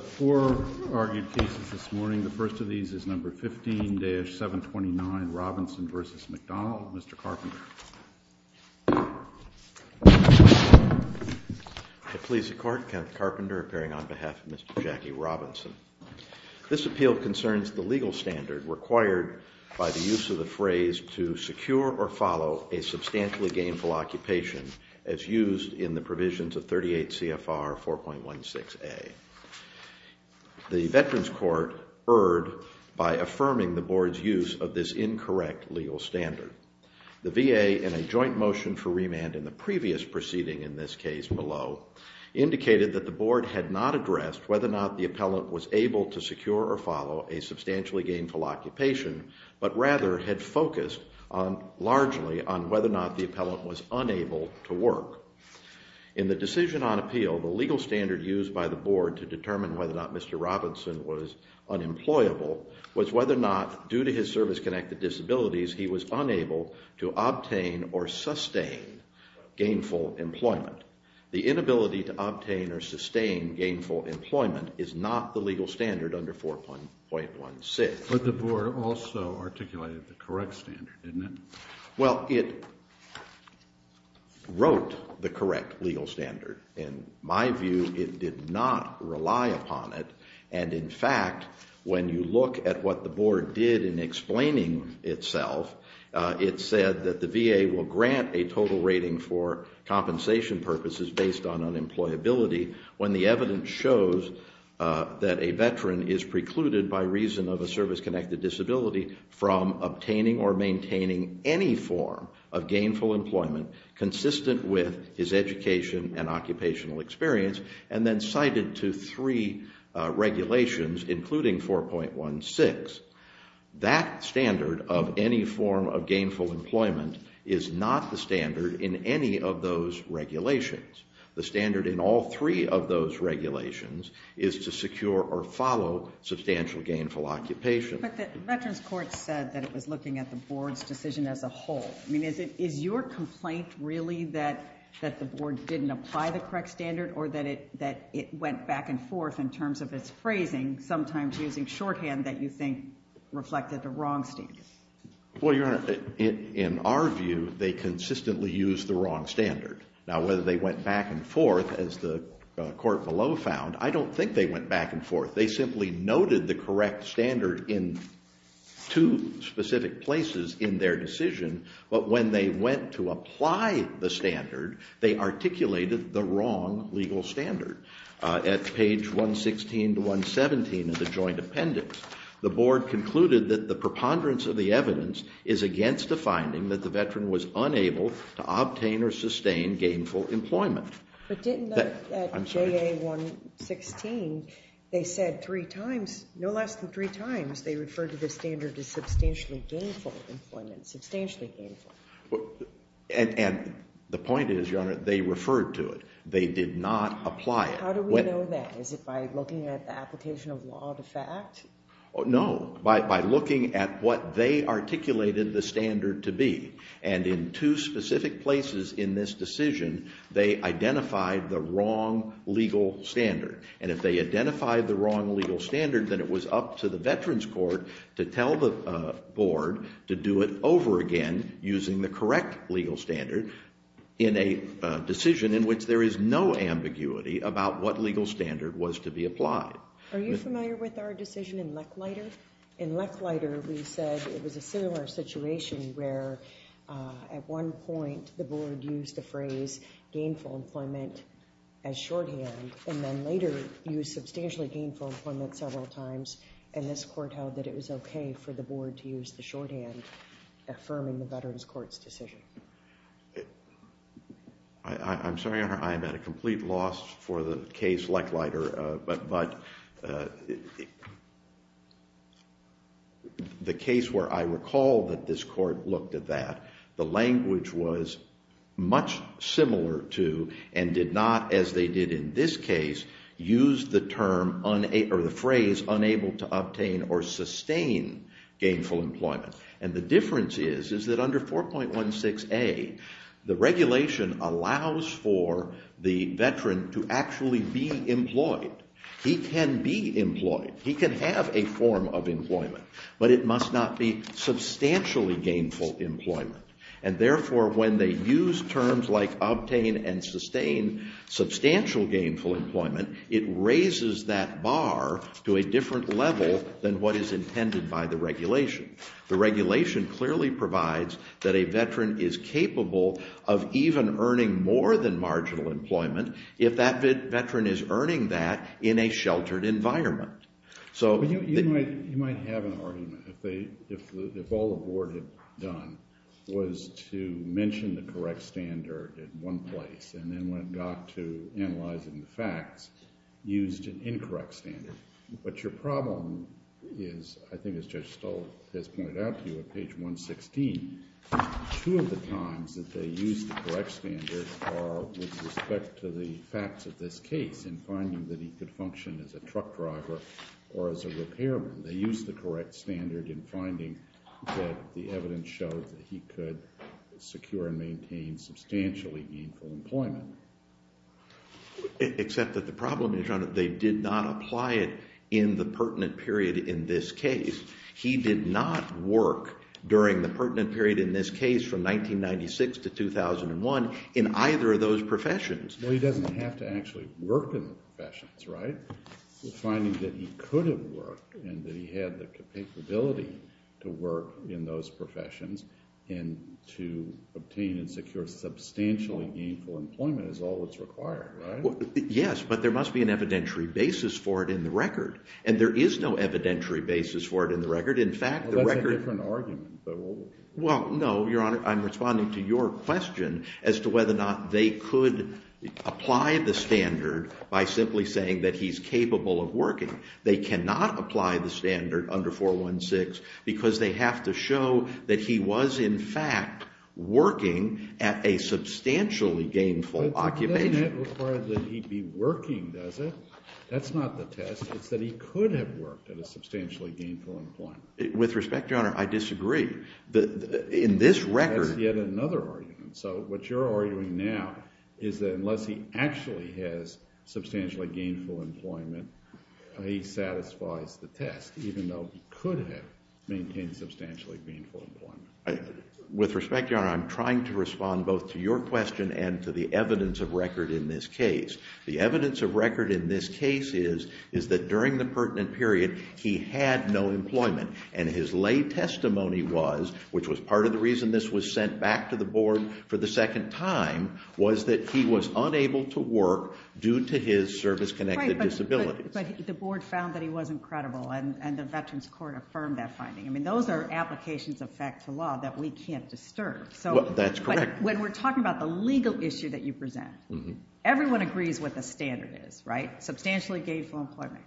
Four argued cases this morning. The first of these is number 15-729 Robinson v. McDonald. Mr. Carpenter. The police of court, Kent Carpenter, appearing on behalf of Mr. Jackie Robinson. This appeal concerns the legal standard required by the use of the phrase to secure or follow a substantially gainful occupation as used in the provisions of 38 CFR 4.16A. The veterans court erred by affirming the board's use of this incorrect legal standard. The VA, in a joint motion for remand in the previous proceeding in this case below, indicated that the board had not addressed whether or not the appellant was able to secure or follow a substantially gainful occupation, but rather had focused largely on whether or not the appellant was unable to work. In the decision on appeal, the legal standard used by the board to determine whether or not Mr. Robinson was unemployable was whether or not, due to his service-connected disabilities, he was unable to obtain or sustain gainful employment. The inability to obtain or sustain gainful employment is not the legal standard under 4.16. But the board also articulated the correct standard, didn't it? Well, it wrote the correct legal standard. In my view, it did not rely upon it, and in fact, when you look at what the board did in explaining itself, it said that the VA will grant a total rating for compensation purposes based on unemployability when the evidence shows that a veteran is precluded by reason of a service-connected disability from obtaining or maintaining any form of gainful employment consistent with his education and occupational experience, and then cited to three regulations, including 4.16. That standard of any form of gainful employment is not the standard in any of those regulations. The standard in all three of those regulations is to secure or follow substantial gainful occupation. But the Veterans Court said that it was looking at the board's decision as a whole. I mean, is your complaint really that the board didn't apply the correct standard or that it went back and forth in terms of its phrasing, sometimes using shorthand that you think reflected the wrong standard? Well, Your Honor, in our view, they consistently used the wrong standard. Now, whether they went back and forth, as the court below found, I don't think they went back and forth. They simply noted the correct standard in two specific places in their decision, but when they went to apply the standard, they articulated the wrong legal standard. At page 116 to 117 of the joint appendix, the board concluded that the preponderance of the evidence is against the finding that the veteran was unable to obtain or sustain gainful employment. But didn't at JA 116 they said three times, no less than three times, they referred to the standard as substantially gainful employment, substantially gainful? And the point is, Your Honor, they referred to it. They did not apply it. How do we know that? Is it by looking at the application of law to fact? No, by looking at what they articulated the standard to be. And in two specific places in this decision, they identified the wrong legal standard. And if they identified the wrong legal standard, then it was up to the veterans court to tell the board to do it over again using the correct legal standard in a decision in which there is no ambiguity about what legal standard was to be applied. Are you familiar with our decision in Lechleiter? In Lechleiter, we said it was a similar situation where at one point the board used the phrase gainful employment as shorthand and then later used substantially gainful employment several times. And this court held that it was okay for the board to use the shorthand affirming the veterans court's decision. I'm sorry, Your Honor. I am at a complete loss for the case Lechleiter. But the case where I recall that this court looked at that, the language was much similar to and did not, as they did in this case, use the phrase unable to obtain or sustain gainful employment. And the difference is, is that under 4.16a, the regulation allows for the veteran to actually be employed. He can be employed. He can have a form of employment. But it must not be substantially gainful employment. And therefore, when they use terms like obtain and sustain substantial gainful employment, it raises that bar to a different level than what is intended by the regulation. The regulation clearly provides that a veteran is capable of even earning more than marginal employment if that veteran is earning that in a sheltered environment. But you might have an argument if all the board had done was to mention the correct standard in one place and then when it got to analyzing the facts, used an incorrect standard. But your problem is, I think as Judge Stoll has pointed out to you at page 116, two of the times that they used the correct standard are with respect to the facts of this case in finding that he could function as a truck driver or as a repairman. They used the correct standard in finding that the evidence showed that he could secure and maintain substantially gainful employment. Except that the problem is they did not apply it in the pertinent period in this case. He did not work during the pertinent period in this case from 1996 to 2001 in either of those professions. Well, he doesn't have to actually work in the professions, right? Finding that he could have worked and that he had the capability to work in those professions and to obtain and secure substantially gainful employment is all that's required, right? Yes, but there must be an evidentiary basis for it in the record. And there is no evidentiary basis for it in the record. That's a different argument. Well, no, Your Honor. I'm responding to your question as to whether or not they could apply the standard by simply saying that he's capable of working. They cannot apply the standard under 416 because they have to show that he was, in fact, working at a substantially gainful occupation. But doesn't that require that he be working, does it? That's not the test. It's that he could have worked at a substantially gainful employment. With respect, Your Honor, I disagree. In this record— That's yet another argument. So what you're arguing now is that unless he actually has substantially gainful employment, he satisfies the test, even though he could have maintained substantially gainful employment. With respect, Your Honor, I'm trying to respond both to your question and to the evidence of record in this case. The evidence of record in this case is that during the pertinent period, he had no employment. And his lay testimony was, which was part of the reason this was sent back to the Board for the second time, was that he was unable to work due to his service-connected disabilities. But the Board found that he wasn't credible, and the Veterans Court affirmed that finding. I mean, those are applications of fact to law that we can't disturb. That's correct. But when we're talking about the legal issue that you present, everyone agrees what the standard is, right? Substantially gainful employment,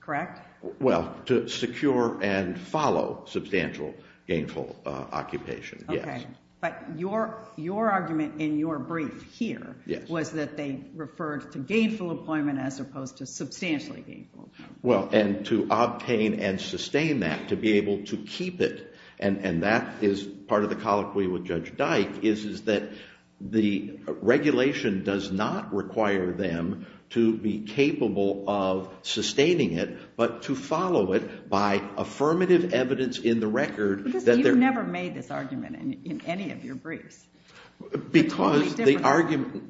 correct? Well, to secure and follow substantial gainful occupation, yes. Okay. But your argument in your brief here was that they referred to gainful employment as opposed to substantially gainful. Well, and to obtain and sustain that, to be able to keep it, and that is part of the colloquy with Judge Dyke is that the regulation does not require them to be capable of sustaining it, but to follow it by affirmative evidence in the record. You've never made this argument in any of your briefs. Because the argument...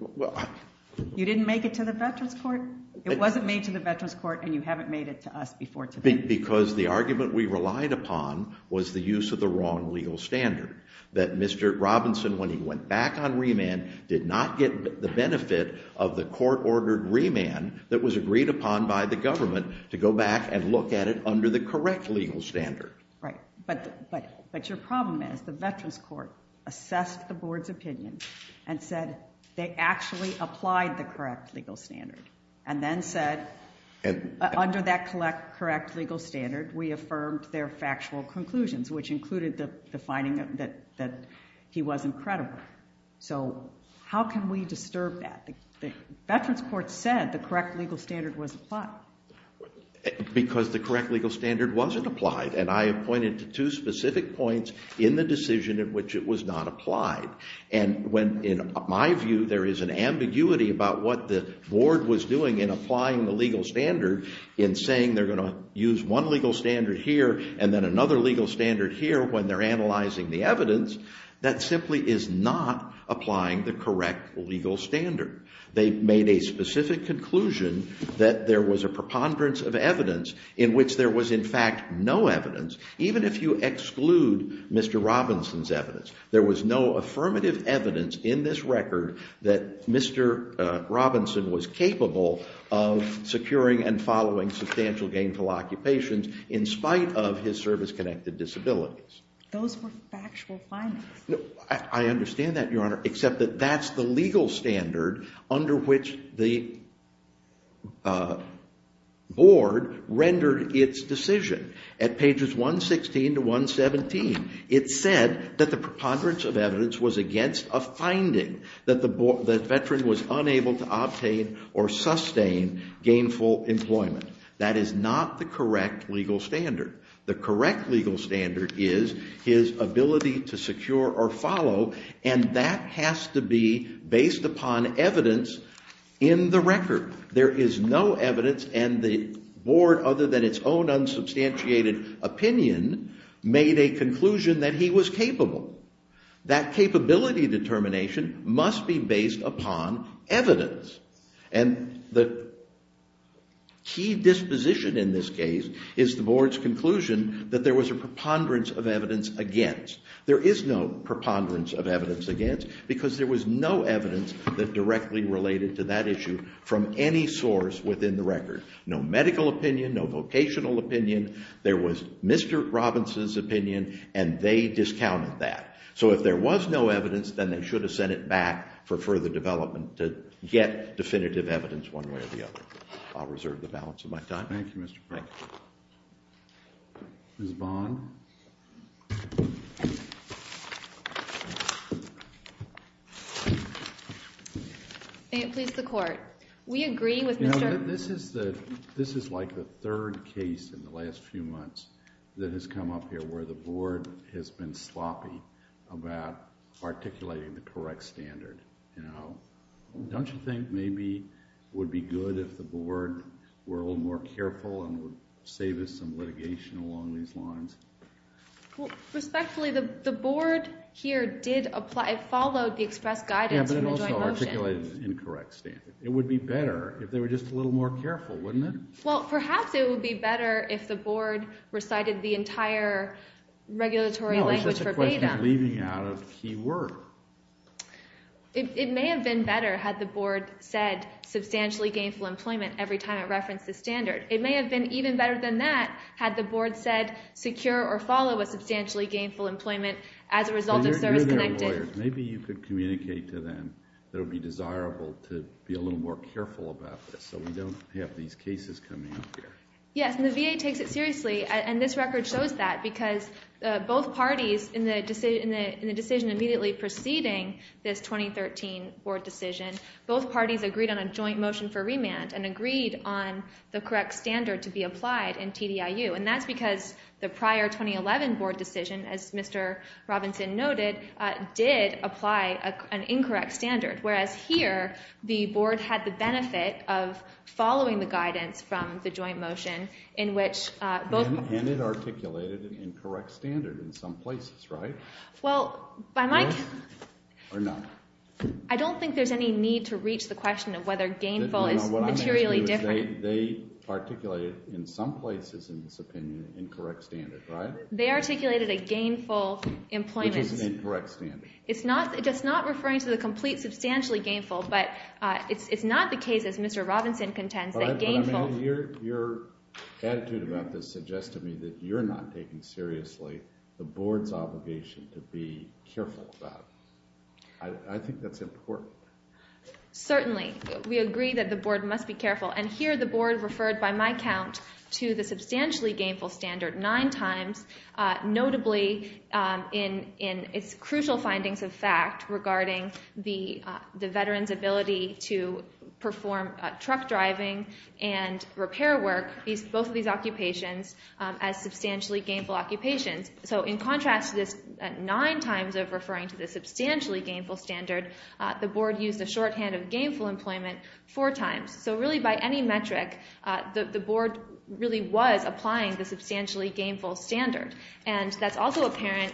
You didn't make it to the Veterans Court. It wasn't made to the Veterans Court, and you haven't made it to us before today. Because the argument we relied upon was the use of the wrong legal standard, that Mr. Robinson, when he went back on remand, did not get the benefit of the court-ordered remand that was agreed upon by the government to go back and look at it under the correct legal standard. Right. But your problem is the Veterans Court assessed the board's opinion and said they actually applied the correct legal standard and then said under that correct legal standard we affirmed their factual conclusions, which included the finding that he wasn't credible. So how can we disturb that? The Veterans Court said the correct legal standard was applied. Because the correct legal standard wasn't applied, and I have pointed to two specific points in the decision in which it was not applied. And when, in my view, there is an ambiguity about what the board was doing in applying the legal standard in saying they're going to use one legal standard here and then another legal standard here when they're analyzing the evidence, that simply is not applying the correct legal standard. They made a specific conclusion that there was a preponderance of evidence in which there was in fact no evidence, even if you exclude Mr. Robinson's evidence. There was no affirmative evidence in this record that Mr. Robinson was capable of securing and following substantial gainful occupations in spite of his service-connected disabilities. Those were factual findings. I understand that, Your Honor, except that that's the legal standard under which the board rendered its decision. At pages 116 to 117, it said that the preponderance of evidence was against a finding that the veteran was unable to obtain or sustain gainful employment. That is not the correct legal standard. The correct legal standard is his ability to secure or follow, and that has to be based upon evidence in the record. There is no evidence, and the board, other than its own unsubstantiated opinion, made a conclusion that he was capable. That capability determination must be based upon evidence, and the key disposition in this case is the board's conclusion that there was a preponderance of evidence against. There is no preponderance of evidence against because there was no evidence that directly related to that issue from any source within the record. No medical opinion, no vocational opinion. There was Mr. Robinson's opinion, and they discounted that. So if there was no evidence, then they should have sent it back for further development to get definitive evidence one way or the other. I'll reserve the balance of my time. Thank you, Mr. Brown. Thank you. Ms. Bond? May it please the Court. We agree with Mr. This is like the third case in the last few months that has come up here where the board has been sloppy about articulating the correct standard. Don't you think maybe it would be good if the board were a little more careful and would save us some litigation along these lines? Respectfully, the board here followed the expressed guidance from the joint motion. Yeah, but it also articulated the incorrect standard. It would be better if they were just a little more careful, wouldn't it? Well, perhaps it would be better if the board recited the entire regulatory language for beta. No, it's just a question of leaving out a key word. It may have been better had the board said substantially gainful employment every time it referenced the standard. It may have been even better than that had the board said secure or follow a substantially gainful employment as a result of service-connected. Maybe you could communicate to them that it would be desirable to be a little more careful about this so we don't have these cases coming up here. Yes, and the VA takes it seriously, and this record shows that because both parties in the decision immediately preceding this 2013 board decision, both parties agreed on a joint motion for remand and agreed on the correct standard to be applied in TDIU. And that's because the prior 2011 board decision, as Mr. Robinson noted, did apply an incorrect standard, whereas here the board had the benefit of following the guidance from the joint motion in which both parties... And it articulated an incorrect standard in some places, right? Well, by my... Yes or no? I don't think there's any need to reach the question of whether gainful is materially different. What I'm asking you is they articulated in some places in this opinion an incorrect standard, right? They articulated a gainful employment... Which is an incorrect standard. It's not referring to the complete substantially gainful, but it's not the case, as Mr. Robinson contends, that gainful... Your attitude about this suggests to me that you're not taking seriously the board's obligation to be careful about it. I think that's important. Certainly. We agree that the board must be careful. And here the board referred by my count to the substantially gainful standard nine times, notably in its crucial findings of fact regarding the veterans' ability to perform truck driving and repair work, both of these occupations, as substantially gainful occupations. So in contrast to this nine times of referring to the substantially gainful standard, the board used the shorthand of gainful employment four times. So really by any metric, the board really was applying the substantially gainful standard. And that's also apparent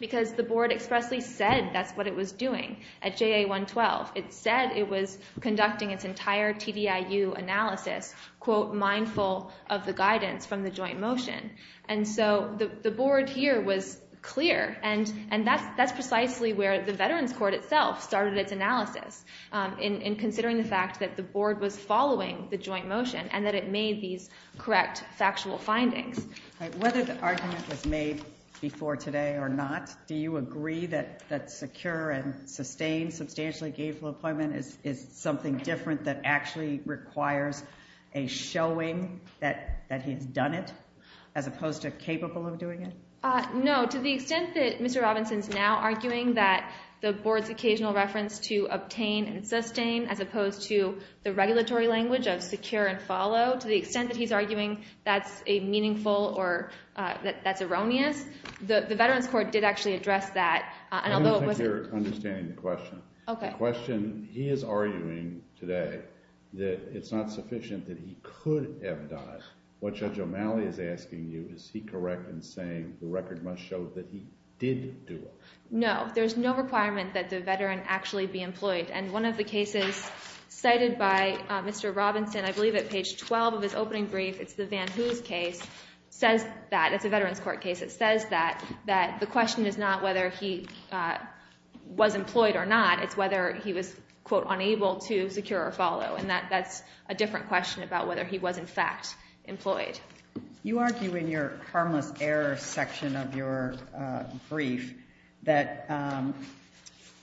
because the board expressly said that's what it was doing at JA 112. It said it was conducting its entire TDIU analysis, quote, mindful of the guidance from the joint motion. And so the board here was clear, and that's precisely where the veterans' court itself started its analysis in considering the fact that the board was following the joint motion and that it made these correct factual findings. Whether the argument was made before today or not, do you agree that secure and sustained substantially gainful employment is something different that actually requires a showing that he has done it as opposed to capable of doing it? No. To the extent that Mr. Robinson is now arguing that the board's occasional reference to obtain and sustain as opposed to the regulatory language of secure and follow, to the extent that he's arguing that's a meaningful or that's erroneous, the veterans' court did actually address that. I don't think you're understanding the question. The question, he is arguing today that it's not sufficient that he could have done it. What Judge O'Malley is asking you, is he correct in saying the record must show that he did do it? No. There's no requirement that the veteran actually be employed, and one of the cases cited by Mr. Robinson, I believe at page 12 of his opening brief, it's the Van Hoos case, says that, it's a veterans' court case, it says that the question is not whether he was employed or not, it's whether he was, quote, unable to secure or follow, and that's a different question about whether he was in fact employed. You argue in your harmless error section of your brief that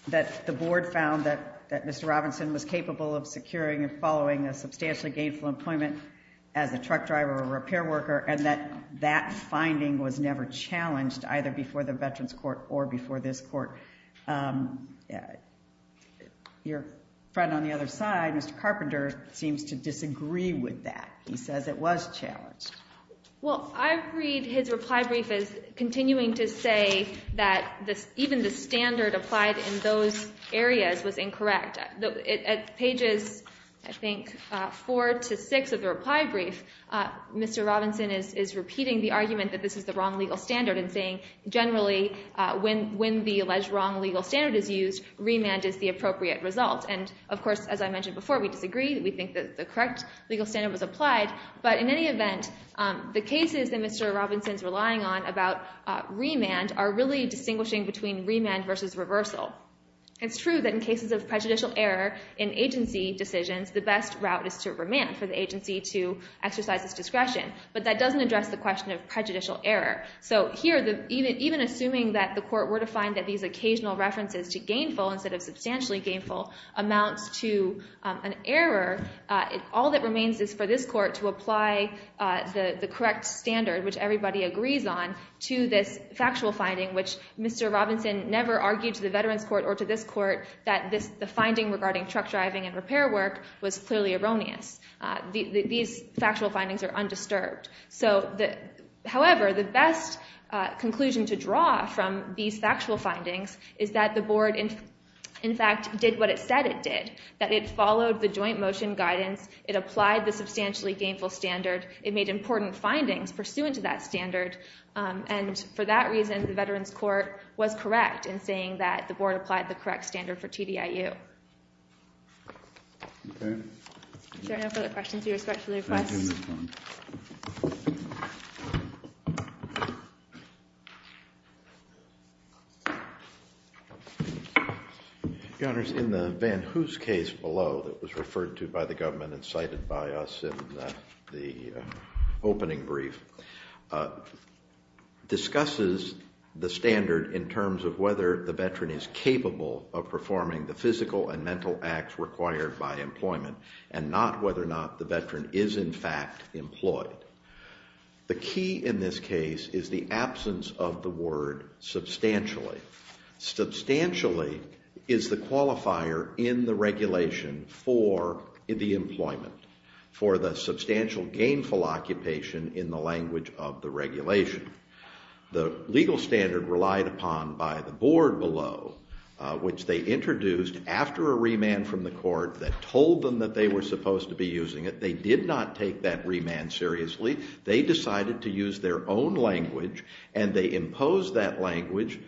the board found that Mr. Robinson was capable of securing and following a substantially gainful employment as a truck driver or a repair worker, and that that finding was never challenged either before the veterans' court or before this court. Your friend on the other side, Mr. Carpenter, seems to disagree with that. He says it was challenged. Well, I read his reply brief as continuing to say that even the standard applied in those areas was incorrect. At pages, I think, four to six of the reply brief, Mr. Robinson is repeating the argument that this is the wrong legal standard and saying generally when the alleged wrong legal standard is used, remand is the appropriate result, and of course, as I mentioned before, we disagree. We think that the correct legal standard was applied, but in any event, the cases that Mr. Robinson is relying on about remand are really distinguishing between remand versus reversal. It's true that in cases of prejudicial error in agency decisions, the best route is to remand for the agency to exercise its discretion, but that doesn't address the question of prejudicial error. So here, even assuming that the court were to find that these occasional references to gainful instead of substantially gainful amounts to an error, all that remains is for this court to apply the correct standard, which everybody agrees on, to this factual finding, which Mr. Robinson never argued to the Veterans Court or to this court that the finding regarding truck driving and repair work was clearly erroneous. These factual findings are undisturbed. However, the best conclusion to draw from these factual findings is that the board, in fact, did what it said it did, that it followed the joint motion guidance. It applied the substantially gainful standard. It made important findings pursuant to that standard, and for that reason, the Veterans Court was correct in saying that the board applied the correct standard for TDIU. Okay. If there are no further questions, we respectfully request. Your Honors, in the Van Hoos case below that was referred to by the government and cited by us in the opening brief, discusses the standard in terms of whether the veteran is capable of performing the physical and mental acts required by employment and not whether or not the veteran is in fact employed. The key in this case is the absence of the word substantially. Substantially is the qualifier in the regulation for the employment, for the substantial gainful occupation in the language of the regulation. The legal standard relied upon by the board below, which they introduced after a remand from the court that told them that they were supposed to be using it. They did not take that remand seriously. They decided to use their own language, and they imposed that language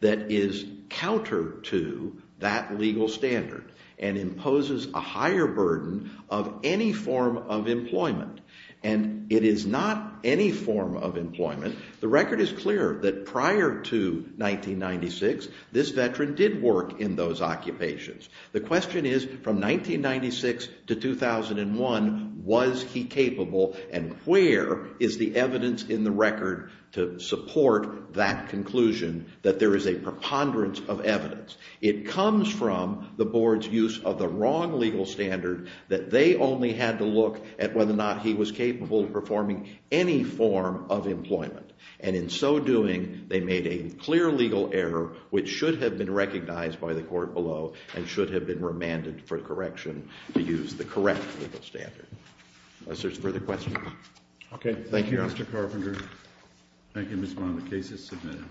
that is counter to that legal standard and imposes a higher burden of any form of employment, and it is not any form of employment. The record is clear that prior to 1996, this veteran did work in those occupations. The question is from 1996 to 2001, was he capable, and where is the evidence in the record to support that conclusion that there is a preponderance of evidence. It comes from the board's use of the wrong legal standard that they only had to look at whether or not he was capable of performing any form of employment, and in so doing, they made a clear legal error which should have been recognized by the court below and should have been remanded for correction to use the correct legal standard. Unless there's further questions. Okay, thank you, Mr. Carpenter. Thank you, Mr. Bond. The case is submitted. Thank you.